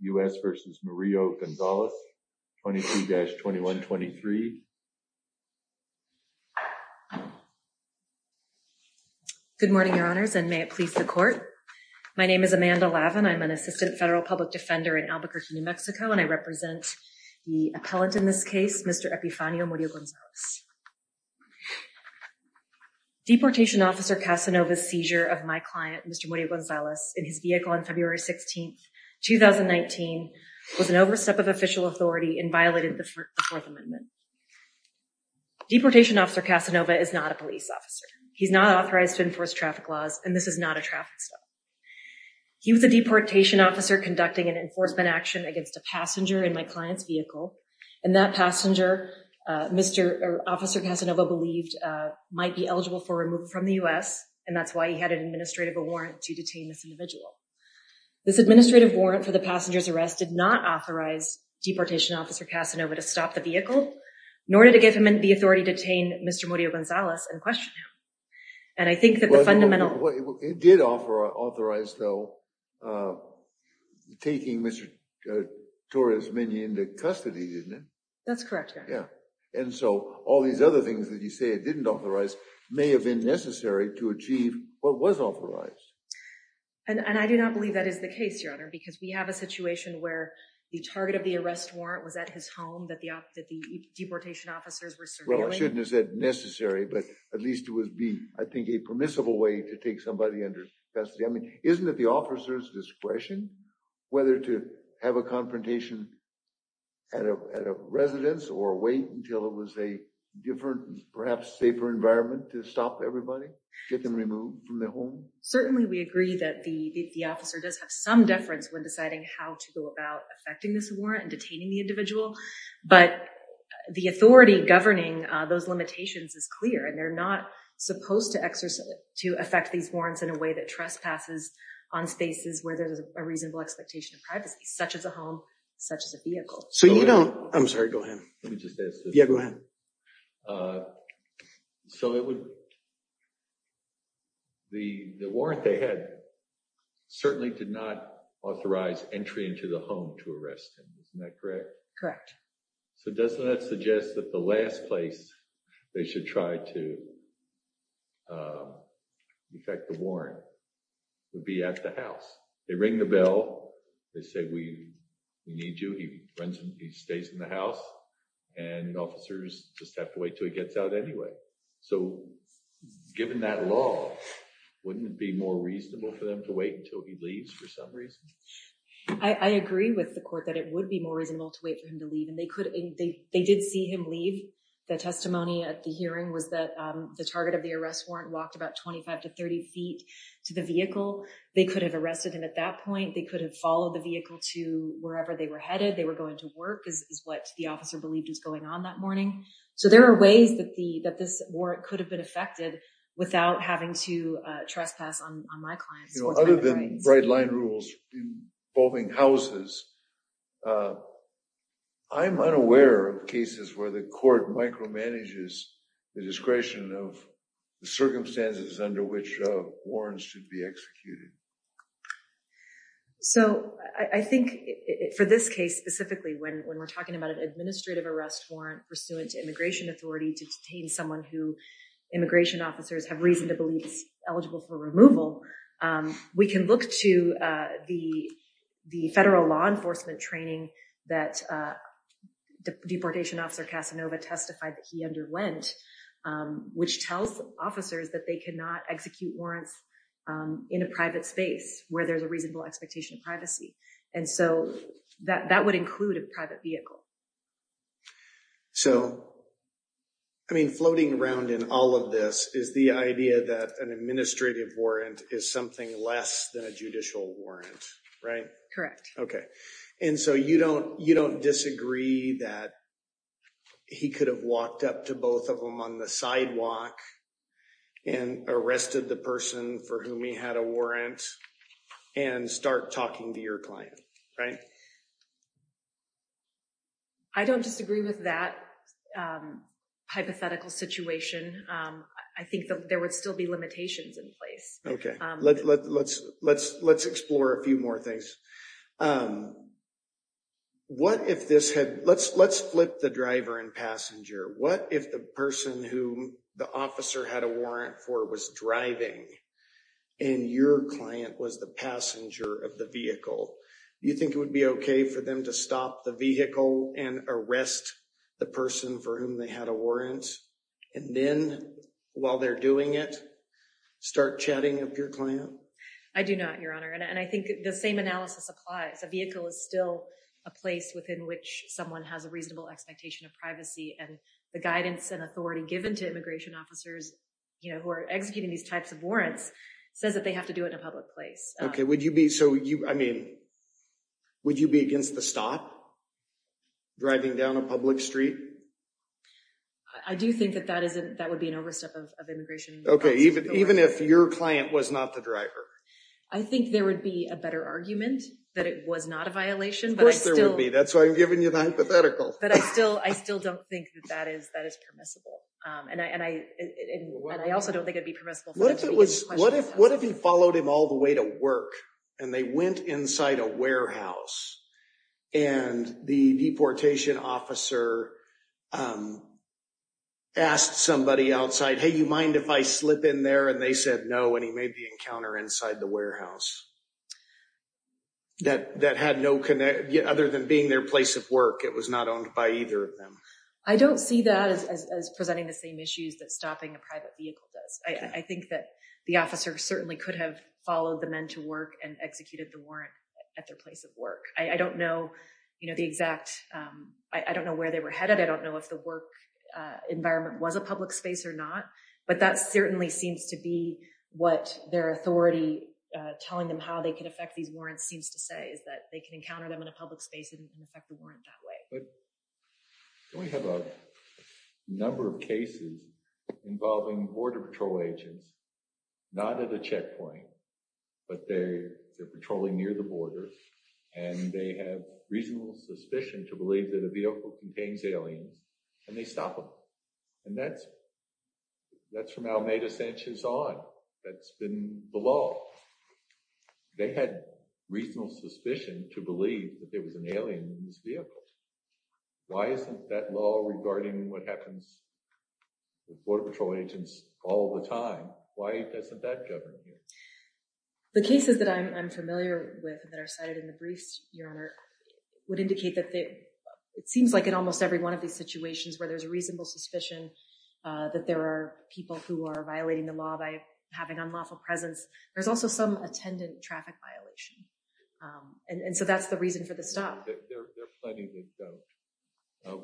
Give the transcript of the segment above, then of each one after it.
U.S. v. Murillo-Gonzalez, 22-2123. Good morning, your honors, and may it please the court. My name is Amanda Lavin. I'm an assistant federal public defender in Albuquerque, New Mexico, and I represent the appellant in this case, Mr. Epifanio Murillo-Gonzalez. Deportation officer Casanova's seizure of my client, Mr. Murillo-Gonzalez, in his vehicle on February 16, 2019, was an overstep of official authority and violated the Fourth Amendment. Deportation officer Casanova is not a police officer. He's not authorized to enforce traffic laws, and this is not a traffic stop. He was a deportation officer conducting an enforcement action against a passenger in my client's vehicle, and that passenger, Officer Casanova believed, might be eligible for removal from the U.S., and that's why he had an administrative warrant to detain this individual. This administrative warrant for the passenger's arrest did not authorize deportation officer Casanova to stop the vehicle, nor did it give him the authority to detain Mr. Murillo-Gonzalez and question him. And I think that the fundamental... It did authorize, though, taking Mr. Torres-Mignon into custody, didn't it? That's correct, your honor. Yeah, and so all these other things that you say didn't authorize may have been necessary to achieve what was authorized. And I do not believe that is the case, your honor, because we have a situation where the target of the arrest warrant was at his home that the deportation officers were surveilling. Well, I shouldn't have said necessary, but at least it would be, I think, a permissible way to take somebody under custody. I mean, isn't it the officer's discretion whether to have a confrontation at a residence or wait until it was a different, perhaps safer environment to stop everybody, get them removed from their home? Certainly, we agree that the officer does have some deference when deciding how to go about affecting this warrant and detaining the individual. But the authority governing those limitations is clear and they're not supposed to affect these warrants in a way that trespasses on spaces where there's a reasonable expectation of privacy, such as a home, such as a vehicle. So you don't... I'm sorry, go ahead. Let me just ask this. Yeah, go ahead. So it would... The warrant they had certainly did not authorize entry into the home to arrest him. Isn't that correct? Correct. So doesn't that suggest that the last place they should try to affect the warrant would be at the house? They ring the bell. They say, we need you. He runs, he stays in the house. And officers just have to wait till he gets out anyway. So given that law, wouldn't it be more reasonable for them to wait until he leaves for some reason? I agree with the court that it would be more reasonable to wait for him to leave. And they did see him leave. The testimony at the hearing was that the target of the arrest warrant walked about 25 to 30 feet to the vehicle. They could have arrested him at that point. They could have followed the vehicle to wherever they were headed. They were going to work, is what the officer believed is going on that morning. So there are ways that this warrant could have been affected without having to trespass on my clients. You know, other than bright line rules involving houses, I'm unaware of cases where the court micromanages the discretion of the circumstances under which warrants should be executed. So I think for this case specifically, when we're talking about an administrative arrest warrant pursuant to immigration authority to detain someone who immigration officers have reason to believe is eligible for removal, we can look to the federal law enforcement training that the deportation officer Casanova testified that he underwent, which tells officers that they could not execute warrants in a private setting in a private space where there's a reasonable expectation of privacy. And so that would include a private vehicle. So, I mean floating around in all of this is the idea that an administrative warrant is something less than a judicial warrant, right? Correct. Okay. And so you don't disagree that he could have walked up to both of them on the sidewalk and arrested the person for whom he had a warrant and start talking to your client, right? I don't disagree with that hypothetical situation. I think that there would still be limitations in place. Okay, let's explore a few more things. What if this had, let's flip the driver and passenger. What if the person who the officer had a warrant for was driving and your client was the passenger of the vehicle? You think it would be okay for them to stop the vehicle and arrest the person for whom they had a warrant and then while they're doing it, start chatting up your client? I do not, Your Honor. And I think the same analysis applies. A vehicle is still a place within which someone has a reasonable expectation of privacy and the guidance and authority given to immigration officers, you know, who are executing these types of warrants says that they have to do it in a public place. Okay, would you be, so you, I mean, would you be against the stop driving down a public street? I do think that that would be an overstep of immigration. Okay, even if your client was not the driver? I think there would be a better argument that it was not a violation. Of course there would be. That's why I'm giving you the hypothetical. But I still, I still don't think that that is permissible. And I also don't think it'd be permissible. What if it was, what if he followed him all the way to work and they went inside a warehouse and the deportation officer asked somebody outside, hey, you mind if I slip in there? And they said no, and he made the encounter inside the warehouse. That had no connection, other than being their place of work. It was not owned by either of them. I don't see that as presenting the same issues that stopping a private vehicle does. I think that the officer certainly could have followed the men to work and executed the warrant at their place of work. I don't know, you know, the exact, I don't know where they were headed. I don't know if the work environment was a public space or not, but that certainly seems to be what their authority telling them how they can affect these warrants seems to say is that they can encounter them in a public space and affect the warrant that way. But we have a number of cases involving Border Patrol agents, not at a checkpoint, but they're patrolling near the border and they have reasonable suspicion to believe that a vehicle contains aliens and they stop them. And that's from Almeida Sanchez on, that's been the law. They had reasonable suspicion to believe that there was an alien in this vehicle. Why isn't that law regarding what happens with Border Patrol agents all the time? Why isn't that governing here? The cases that I'm familiar with that are cited in the briefs, Your Honor, would indicate that it seems like in almost every one of these situations where there's a reasonable suspicion that there are people who are violating the law by having unlawful presence. There's also some attendant traffic violation. And so that's the reason for the stop. There are plenty that don't.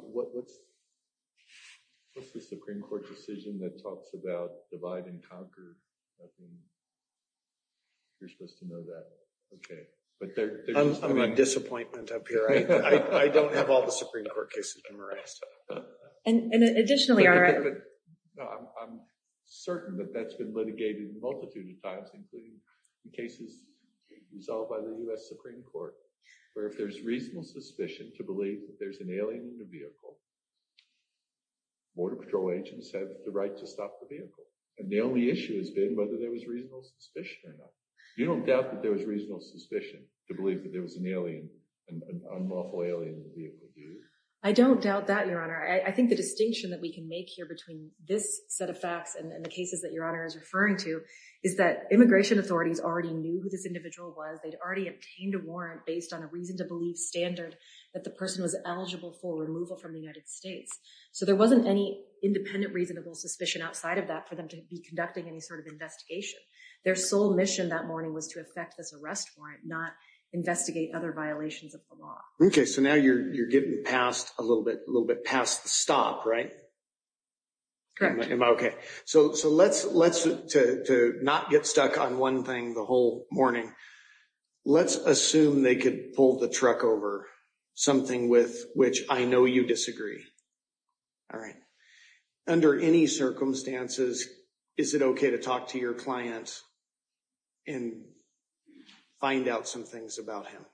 What's the Supreme Court decision that talks about divide and conquer? You're supposed to know that. Okay, but there's... I'm in disappointment up here. I don't have all the Supreme Court cases memorized. And additionally, I'm certain that that's been litigated a multitude of times, including cases resolved by the U.S. Supreme Court, where if there's reasonable suspicion to believe that there's an alien in the vehicle, Border Patrol agents have the right to stop the vehicle. And the only issue has been whether there was reasonable suspicion or not. You don't doubt that there was reasonable suspicion to believe that there was an alien, an unlawful alien in the vehicle, do you? I don't doubt that, Your Honor. I think the distinction that we can make here between this set of facts and the cases that Your Honor is referring to is that immigration authorities already knew who this individual was. They'd already obtained a warrant based on a reason to believe standard that the person was eligible for removal from the United States. So there wasn't any independent reasonable suspicion outside of that for them to be conducting any sort of investigation. Their sole mission that morning was to affect this arrest warrant, not investigate other violations of the law. Okay. So now you're getting past a little bit, a little bit past the stop, right? Correct. Am I okay? So let's, to not get stuck on one thing the whole morning, let's assume they could pull the truck over, something with which I know you disagree. All right. Under any circumstances, is it okay to talk to your client and find out some things about him?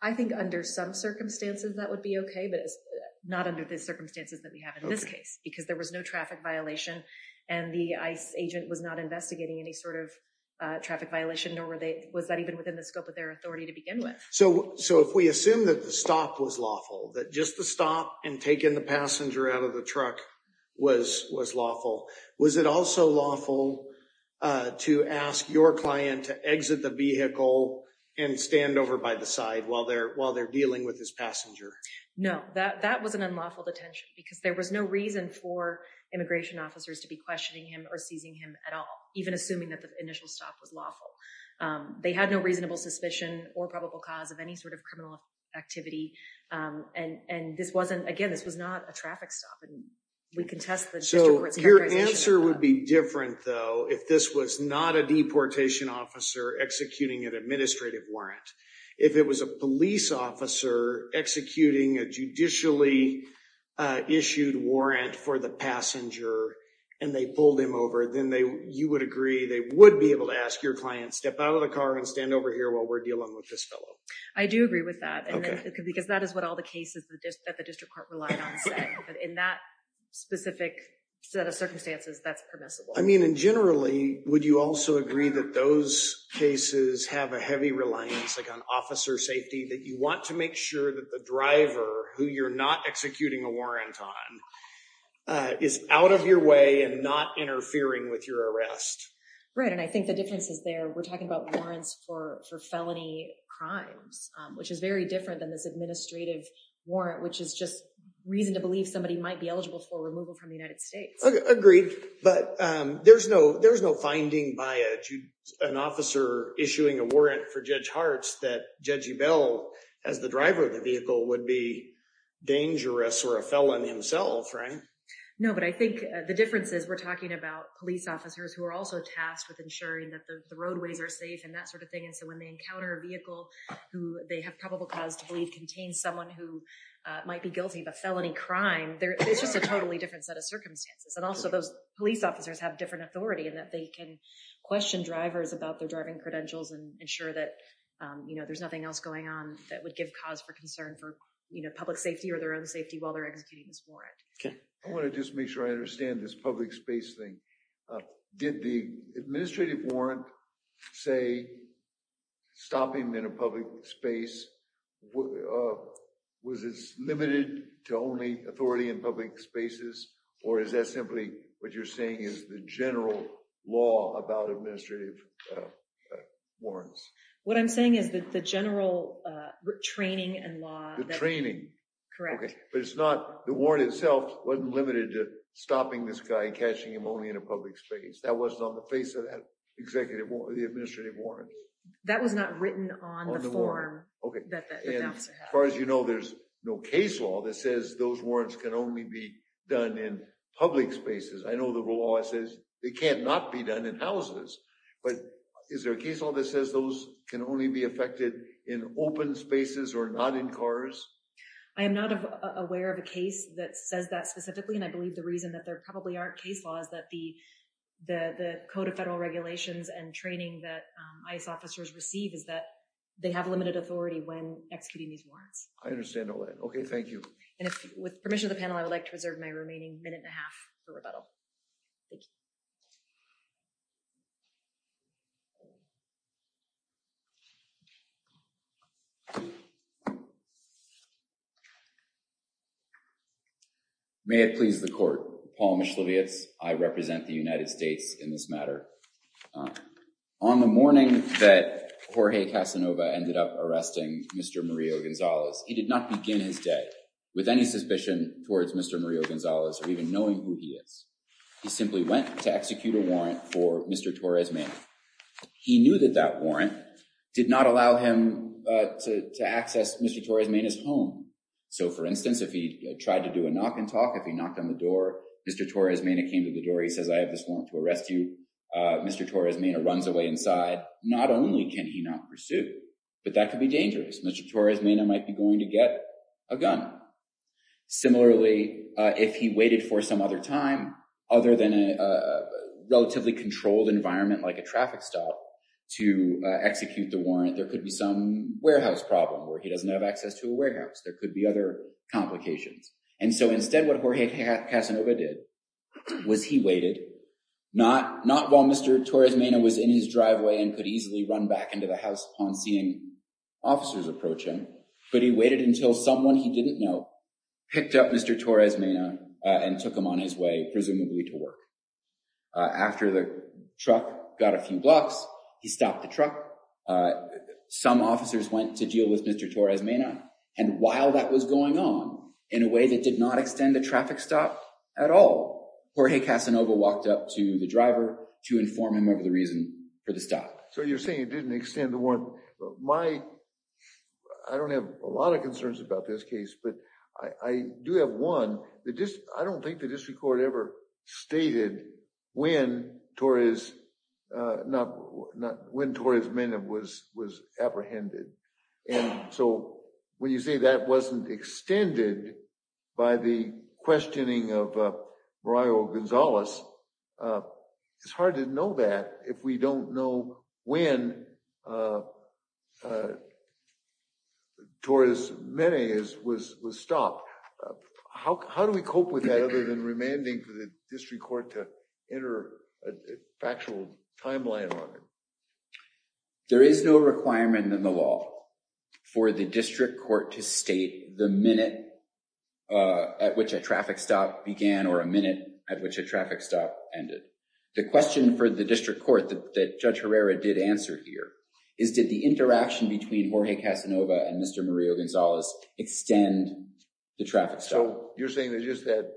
I think under some circumstances, that would be okay, but it's not under the circumstances that we have in this case because there was no traffic violation and the ICE agent was not investigating any sort of traffic violation, nor were they, was that even within the scope of their authority to begin with? So if we assume that the stop was lawful, that just the stop and taking the passenger out of the truck was lawful, was it also lawful to ask your client to exit the vehicle and stand over by the side while they're dealing with this passenger? No, that was an unlawful detention because there was no reason for immigration officers to be questioning him or seizing him at all, even assuming that the initial stop was lawful. They had no reasonable suspicion or probable cause of any sort of criminal activity. And this wasn't, again, this was not a traffic stop and we contest the district court's characterization. So your answer would be different though, if this was not a deportation officer executing an administrative warrant. If it was a police officer executing a judicially issued warrant for the passenger and they pulled him over, then they, you would agree, they would be able to ask your client to step out of the car and stand over here while we're dealing with this fellow. I do agree with that. And because that is what all the cases that the district court relied on said, but in that specific set of circumstances that's permissible. I mean, and generally, would you also agree that those cases have a heavy reliance, like on officer safety, that you want to make sure that the driver who you're not executing a is out of your way and not interfering with your arrest? Right. And I think the difference is there. We're talking about warrants for felony crimes, which is very different than this administrative warrant, which is just reason to believe somebody might be eligible for removal from the United States. Agreed, but there's no finding by an officer issuing a warrant for Judge Hartz that Judge Ebell, as the driver of the vehicle, would be dangerous or a felon himself, right? No, but I think the difference is we're talking about police officers who are also tasked with ensuring that the roadways are safe and that sort of thing. And so when they encounter a vehicle who they have probable cause to believe contains someone who might be guilty of a felony crime, it's just a totally different set of circumstances. And also those police officers have different authority and that they can question drivers about their driving credentials and ensure that there's nothing else going on that would give cause for concern for public safety or their own safety while they're executing this warrant. Okay. I want to just make sure I understand this public space thing. Did the administrative warrant say stopping in a public space? Was it limited to only authority in public spaces or is that simply what you're saying is the general law about administrative warrants? What I'm saying is that the general training and law. The training. Correct. But it's not the warrant itself wasn't limited to stopping this guy catching him only in a public space. That wasn't on the face of that executive or the administrative warrant. That was not written on the form. Okay, as far as you know, there's no case law that says those warrants can only be done in public spaces. I know the law says they cannot be done in houses. But is there a case law that says those can only be affected in open spaces or not in cars? I am not aware of a case that says that specifically and I believe the reason that there probably aren't case laws that the the the code of federal regulations and training that ICE officers receive is that they have limited authority when executing these warrants. I understand all that. Okay. Thank you. And if with permission of the panel, I would like to reserve my remaining minute and a half for rebuttal. Thank you. Thank you. May it please the court. Paul Mishlevietz. I represent the United States in this matter. On the morning that Jorge Casanova ended up arresting Mr. Mario Gonzalez. He did not begin his day with any suspicion towards Mr. Mario Gonzalez or even knowing who he is. He simply went to execute a warrant for Mr. Torres-Mena. He knew that that warrant did not allow him to access Mr. Torres-Mena's home. So for instance, if he tried to do a knock and talk, if he knocked on the door, Mr. Torres-Mena came to the door. He says, I have this warrant to arrest you. Mr. Torres-Mena runs away inside. Not only can he not pursue, but that could be dangerous. Mr. Torres-Mena might be going to get a gun. Similarly, if he waited for some other time, other than a relatively controlled environment like a traffic stop to execute the warrant, there could be some warehouse problem where he doesn't have access to a warehouse. There could be other complications. And so instead what Jorge Casanova did was he waited, not while Mr. Torres-Mena was in his driveway and could easily run back into the house upon seeing officers approaching, but he didn't know, picked up Mr. Torres-Mena and took him on his way, presumably to work. After the truck got a few blocks, he stopped the truck. Some officers went to deal with Mr. Torres-Mena and while that was going on, in a way that did not extend the traffic stop at all, Jorge Casanova walked up to the driver to inform him of the reason for the stop. So you're saying it didn't extend the warrant. I don't have a lot of concerns about this case, but I do have one. I don't think the district court ever stated when Torres-Mena was apprehended. And so when you say that wasn't extended by the questioning of Mario Gonzalez, it's hard to know that if we don't know when Torres-Mena was stopped. How do we cope with that other than remanding for the district court to enter a factual timeline on it? There is no requirement in the law for the district court to state the minute at which a traffic stop began or a minute at which a traffic stop ended. The question for the district court that Judge Herrera did answer here is did the interaction between Jorge Casanova and Mr. Mario Gonzalez extend the traffic stop? So you're saying that just that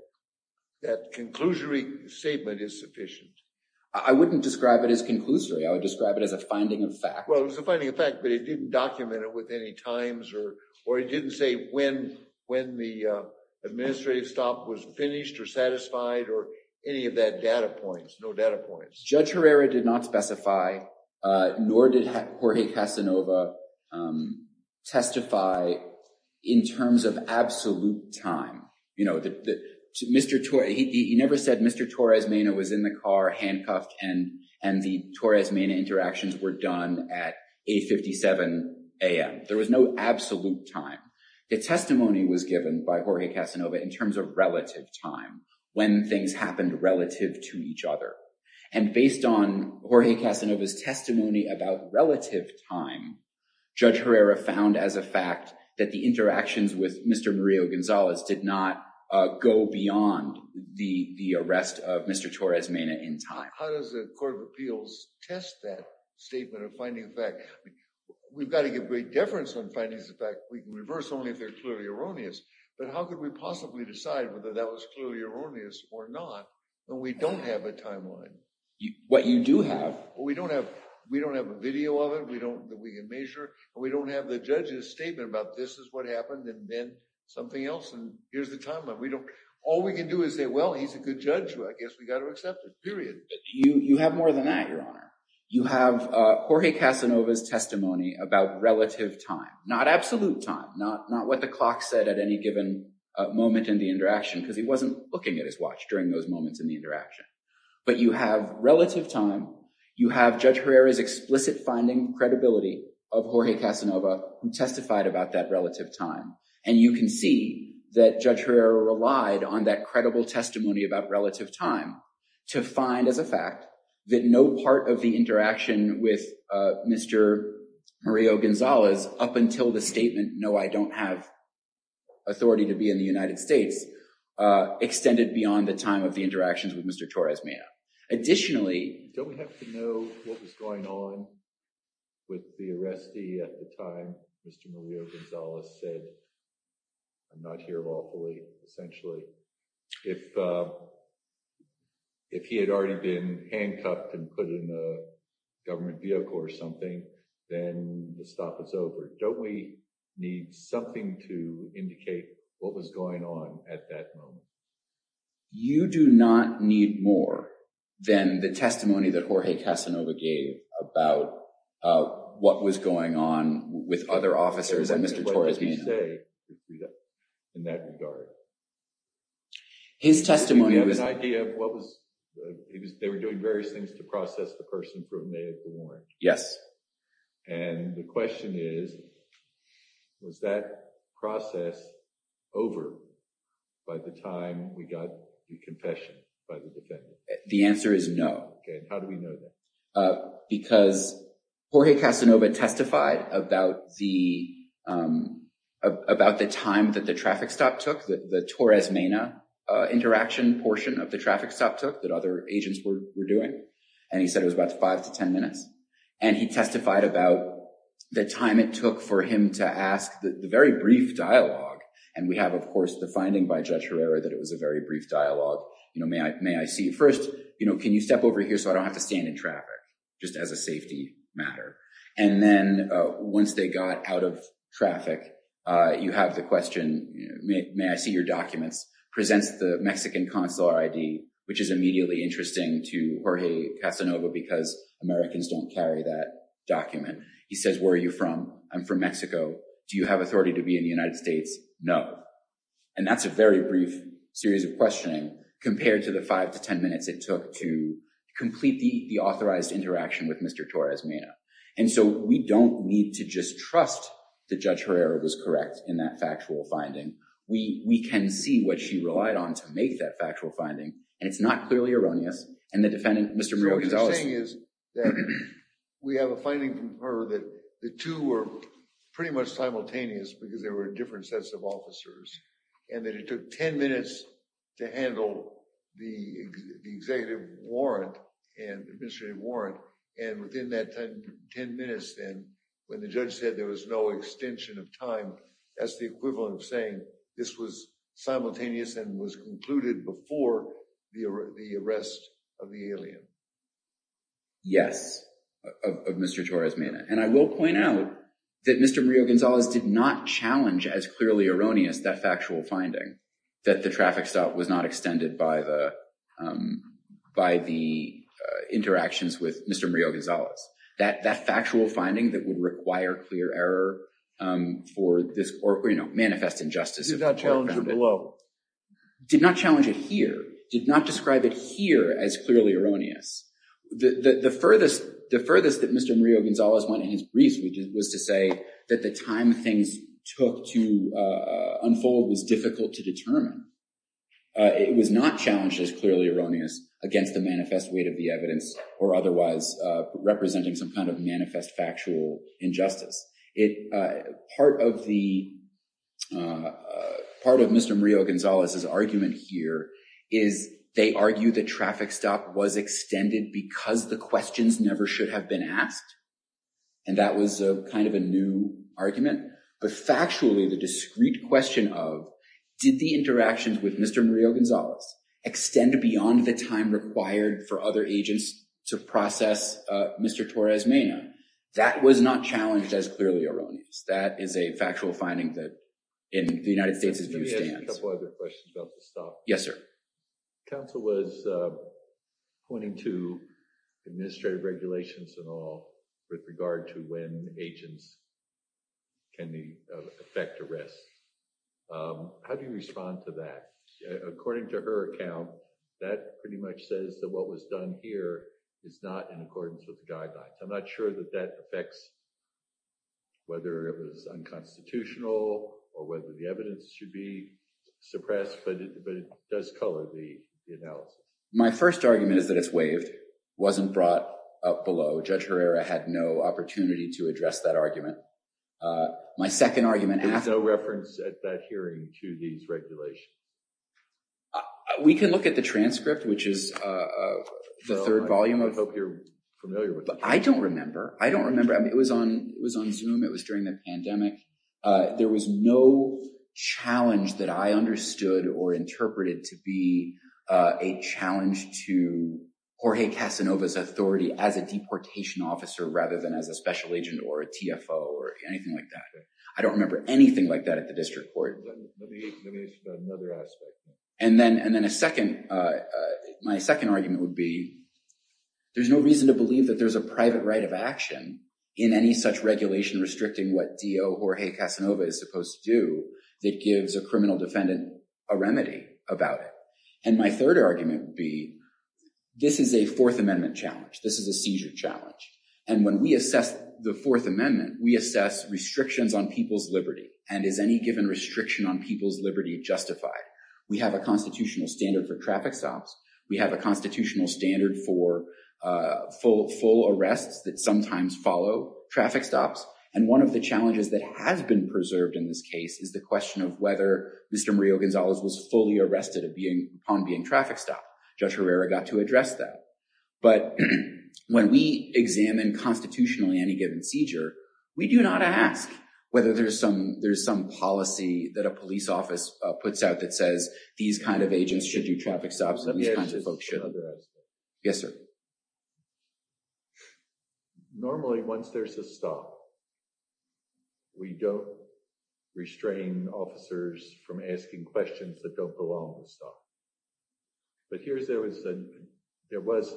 conclusionary statement is sufficient. I wouldn't describe it as conclusory. I would describe it as a finding of fact. Well, it was a finding of fact, but it didn't document it with any times or it didn't say when the administrative stop was finished or satisfied or any of that data points, no data points. Judge Herrera did not specify nor did Jorge Casanova testify in terms of absolute time. You know, he never said Mr. Torres-Mena was in the car handcuffed and the Torres-Mena interactions were done at 8 57 a.m. There was no absolute time. The testimony was given by Jorge Casanova in terms of relative time when things happened relative to each other and based on Jorge Casanova's testimony about relative time, Judge Herrera found as a fact that the interactions with Mr. Mario Gonzalez did not go beyond the arrest of Mr. Torres-Mena in time. How does the Court of Appeals test that statement of finding fact? We've got to give great deference on findings of fact. We can reverse only if they're clearly erroneous, but how could we possibly decide whether that was clearly erroneous or not when we don't have a timeline? What you do have. We don't have, we don't have a video of it. We don't, we can measure, but we don't have the judge's statement about this is what happened and then something else and here's the timeline. We don't, all we can do is say, well, he's a good judge. I guess we got to accept it, period. You have more than that, Your Honor. You have Jorge Casanova's testimony about relative time, not absolute time, not what the clock said at any given moment in the interaction because he wasn't looking at his watch during those moments in the interaction, but you have relative time. You have Judge Herrera's explicit finding credibility of Jorge Casanova who testified about that relative time and you can see that Judge Herrera relied on that credible testimony about relative time to find as a fact that no part of the interaction with Mr. Mario Gonzalez up until the statement, no, I don't have authority to be in the United States extended beyond the time of the interactions with Mr. Torres Mea. Additionally, don't we have to know what was going on with the arrestee at the time? Mr. Mario Gonzalez said, I'm not here lawfully, essentially. If he had already been handcuffed and put in a government vehicle or something, then the stop is over. Don't we need something to indicate what was going on at that moment? You do not need more than the testimony that Jorge Casanova gave about what was going on with other officers and Mr. Torres Mea. What did he say in that regard? His testimony was... Do you have an idea of what was... They were doing various things to process the person proven naïve to warrant. Yes. And the question is, was that process over by the time we got the confession by the defendant? The answer is no. How do we know that? Because Jorge Casanova testified about the time that the traffic stop took, the Torres Mea interaction portion of the traffic stop took, that other agents were doing. And he said it was about five to ten minutes. And he testified about the time it took for him to ask the very brief dialogue. And we have, of course, the finding by Judge Herrera that it was a very brief dialogue. You know, may I see... First, you know, can you step over here so I don't have to stand in traffic, just as a safety matter. And then once they got out of traffic, you have the question, may I see your documents, presents the Mexican consular ID, which is immediately interesting to Jorge Casanova because Americans don't carry that document. He says, where are you from? I'm from Mexico. Do you have authority to be in the United States? No. And that's a very brief series of questioning compared to the five to ten minutes it took to complete the authorized interaction with Mr. Torres Mea. And so we don't need to just trust that Judge Herrera was correct in that factual finding. We can see what she relied on to make that factual finding. And it's not clearly erroneous. And the defendant, Mr. Murillo-Gonzalez. What you're saying is that we have a finding from her that the two were pretty much simultaneous because they were different sets of officers and that it took 10 minutes to handle the executive warrant and administrative warrant. And within that time, 10 minutes then, when the judge said there was no extension of time, that's the equivalent of saying this was simultaneous and was concluded before the arrest of the alien. Yes, of Mr. Torres Mea. And I will point out that Mr. Murillo-Gonzalez did not challenge as clearly erroneous that factual finding that the traffic stop was not extended by the interactions with Mr. Murillo-Gonzalez. That factual finding that would require clear error for this or, you know, manifest injustice. Did that challenge her below? Did not challenge it here. Did not describe it here as clearly erroneous. The furthest that Mr. Murillo-Gonzalez went in his briefs was to say that the time things took to unfold was difficult to determine. It was not challenged as clearly erroneous against the manifest weight of the evidence or otherwise representing some kind of manifest factual injustice. Part of Mr. Murillo-Gonzalez's argument here is they argue that traffic stop was extended because the questions never should have been asked. And that was a kind of a new argument, but factually the discreet question of did the interactions with Mr. Murillo-Gonzalez extend beyond the time required for other agents to process Mr. Torres Mea? That was not challenged as clearly erroneous. That is a factual finding that in the United States. Yes, sir. Counsel was pointing to administrative regulations and all with regard to when agents can affect arrests. How do you respond to that? According to her account that pretty much says that what was done here is not in accordance with the guidelines. I'm not sure that that affects whether it was unconstitutional or whether the evidence should be suppressed, but it does color the analysis. My first argument is that it's waived, wasn't brought up below. Judge Herrera had no opportunity to address that argument. My second argument. There's no reference at that hearing to these regulations. We can look at the transcript, which is the third volume of hope you're familiar with, but I don't remember. I don't remember. I mean, it was on was on zoom. It was during the pandemic. There was no challenge that I understood or interpreted to be a challenge to Jorge Casanova's Authority as a deportation officer rather than as a special agent or a TFO or anything like that. I don't remember anything like that at the District Court. And then and then a second my second argument would be. There's no reason to believe that there's a private right of action in any such regulation restricting what DO Jorge Casanova is supposed to do that gives a criminal defendant a remedy about it. And my third argument would be this is a Fourth Amendment challenge. This is a seizure challenge. And when we assess the Fourth Amendment, we assess restrictions on people's Liberty and is any given restriction on people's Liberty justified. We have a constitutional standard for traffic stops. We have a constitutional standard for full arrests that sometimes follow traffic stops. And one of the challenges that has been preserved in this case is the question of whether Mr. Mario Gonzalez was fully arrested of being on being traffic stop. Judge Herrera got to address that. But when we examine constitutionally any given seizure, we do not ask whether there's some there's some policy that a police office puts out that says these kind of agents should do traffic stops. Yes, sir. Normally once there's a stop. We don't restrain officers from asking questions that don't belong to stop. But here's there was there was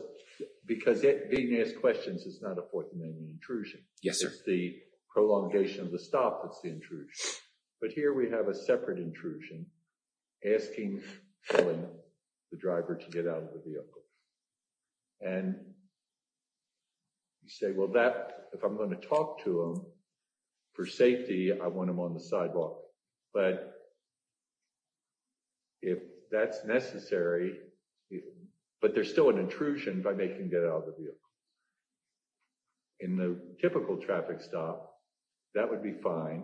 because it being asked questions is not a Fourth Amendment intrusion. Yes, it's the prolongation of the stop. That's the intrusion. But here we have a separate intrusion asking filling the driver to get out of the vehicle. And you say well that if I'm going to talk to him for safety. I want him on the sidewalk, but if that's necessary, but there's still an intrusion by making get out of the vehicle. In the typical traffic stop that would be fine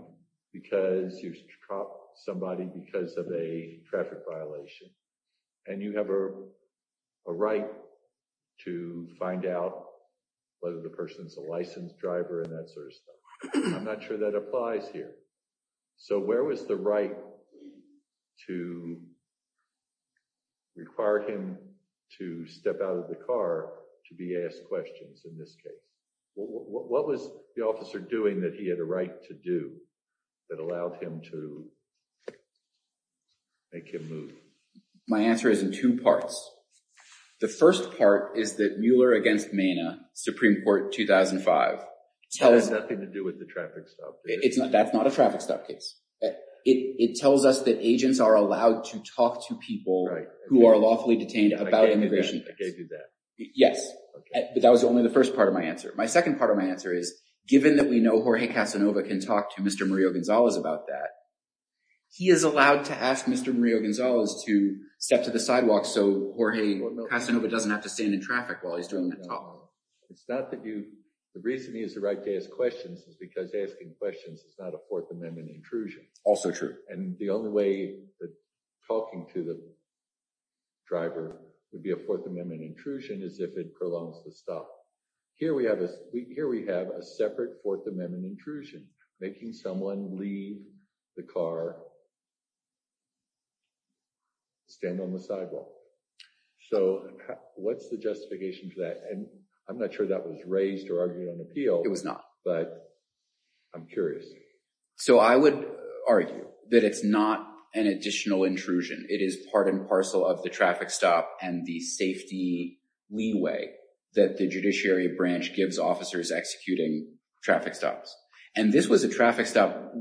because you stopped somebody because of a traffic violation and you have a right to find out whether the person is a licensed driver and that sort of stuff. I'm not sure that applies here. So where was the right to? Require him to step out of the car to be asked questions in this case. What was the officer doing that he had a right to do that allowed him to make him move? My answer is in two parts. The first part is that Mueller against Mena Supreme Court 2005 tells nothing to do with the traffic stop. It's not that's not a traffic stop case. It tells us that agents are allowed to talk to people who are lawfully detained about immigration. I gave you that. Yes, but that was only the first part of my answer. My second part of my answer is given that we know Jorge Casanova can talk to Mr. Mario Gonzalez about that. He is allowed to ask Mr. Mario Gonzalez to step to the sidewalk. So Jorge Casanova doesn't have to stand in traffic while he's doing the talk. It's not that you the reason he is the right to ask questions is because asking questions is not a Fourth Amendment intrusion. Also true. And the only way that talking to the driver would be a Fourth Amendment intrusion is if it prolongs the stop here. We have a week here. We have a separate Fourth Amendment intrusion making someone leave the car. Stand on the sidewalk. So what's the justification for that? And I'm not sure that was raised or argued on appeal. It was not but I'm curious. So I would argue that it's not an additional intrusion. It is part and parcel of the traffic stop and the safety leeway that the Judiciary Branch gives officers executing traffic stops. And this was a traffic stop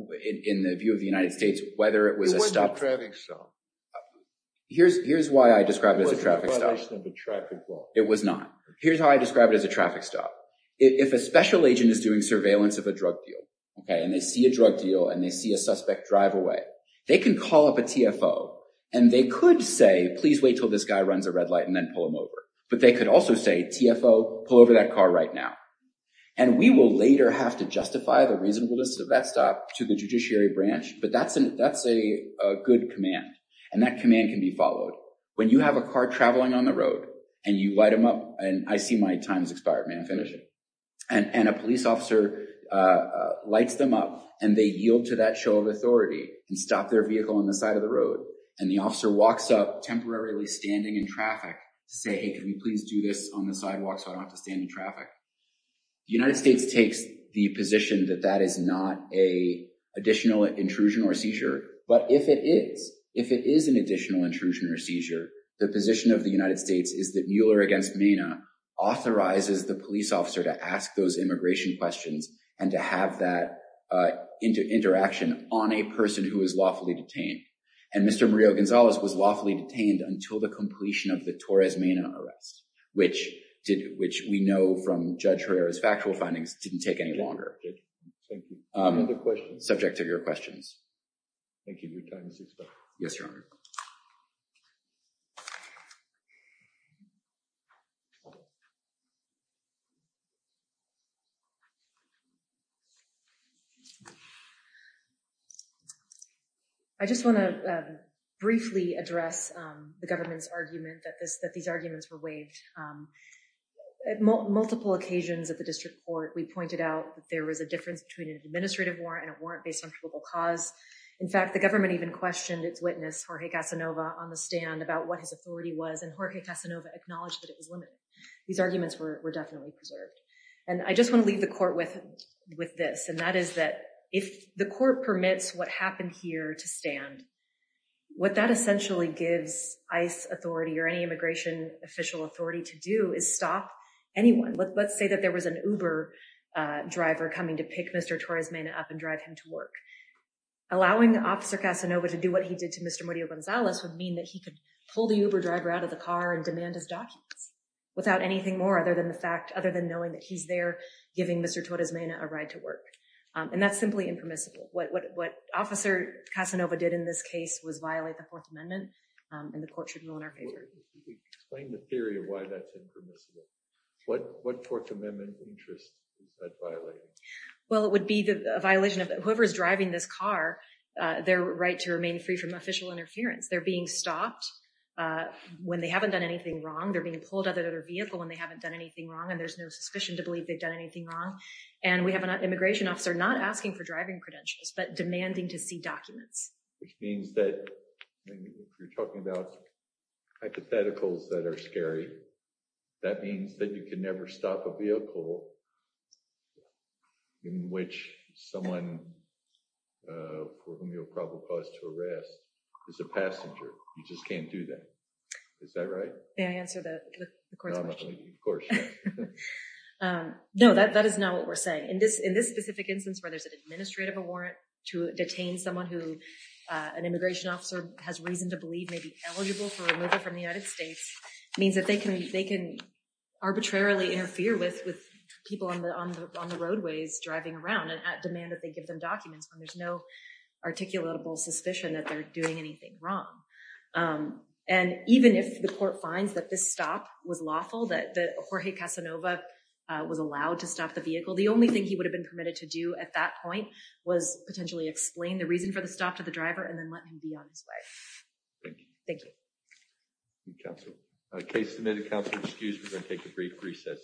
in the view of the United States, whether it was a stop. It wasn't a traffic stop. Here's why I describe it as a traffic stop. It wasn't a violation of the traffic law. It was not. Here's how I describe it as a traffic stop. If a special agent is doing surveillance of a drug deal, okay, and they see a drug deal and they see a suspect drive away, they can call up a TFO and they could say, please wait till this guy runs a red light and then pull him over. But they could also say, TFO, pull over that car right now. And we will later have to justify the reasonableness of that stop to the Judiciary Branch. But that's a good command and that command can be followed. When you have a car traveling on the road and you light them up and I see my time's expired. May I finish? And a police officer lights them up and they yield to that show of authority and stop their vehicle on the side of the road and the officer walks up temporarily standing in traffic to say, hey, can you please do this on the sidewalk so I don't have to stand in traffic? The United States takes the position that that is not an additional intrusion or seizure. But if it is, if it is an additional intrusion or seizure, the position of the United States is that Mueller against the police officer to ask those immigration questions and to have that into interaction on a person who is lawfully detained. And Mr. Murillo-Gonzalez was lawfully detained until the completion of the Torres Mena arrest, which did, which we know from Judge Herrera's factual findings didn't take any longer. Thank you. Other questions? Subject to your questions. Thank you. Your time is expired. Yes, Your Honor. I just want to briefly address the government's argument that this, that these arguments were waived. At multiple occasions at the district court, we pointed out that there was a difference between an administrative warrant and a warrant based on probable cause. In fact, the government even questioned its witness, Jorge Casanova, on the stand about what his authority was, and I just want to briefly address the government's argument that this, that these arguments were waived. And I just want to leave the court with this, and that is that if the court permits what happened here to stand, what that essentially gives ICE authority or any immigration official authority to do is stop anyone. Let's say that there was an Uber driver coming to pick Mr. Torres Mena up and drive him to work. Allowing Officer Casanova to do what he did to Mr. Murillo-Gonzalez would mean that he could pull the Uber driver out of the car and demand his documents without anything more other than the fact, other than knowing that he's there giving Mr. Torres Mena a ride to work. And that's simply impermissible. What Officer Casanova did in this case was violate the Fourth Amendment and the court should rule in our favor. Explain the theory of why that's impermissible. What Fourth Amendment interest is that violating? Well, it would be the violation of whoever is driving this car, their right to remain free from official interference. They're being stopped when they haven't done anything wrong. They're being pulled out of their vehicle and they haven't done anything wrong and there's no suspicion to believe they've done anything wrong. And we have an immigration officer not asking for driving credentials, but demanding to see documents. Which means that you're talking about hypotheticals that are scary. That means that you can never stop a vehicle in which someone for whom you'll probably cause to arrest is a passenger. You just can't do that. Is that right? May I answer the court's question? No, that is not what we're saying. In this specific instance where there's an administrative warrant to detain someone who an immigration officer has reason to believe may be eligible for removal from the United States means that they can arbitrarily interfere with people on the roadways driving around and at demand that they give them documents when there's no articulable suspicion that they're doing anything wrong. And even if the court finds that this stop was lawful that the Jorge Casanova was allowed to stop the vehicle. The only thing he would have been permitted to do at that point was potentially explain the reason for the stop to the driver and then let him be on his way. Thank you. Counselor. Case submitted. Counselor excused. We're going to take a brief recess.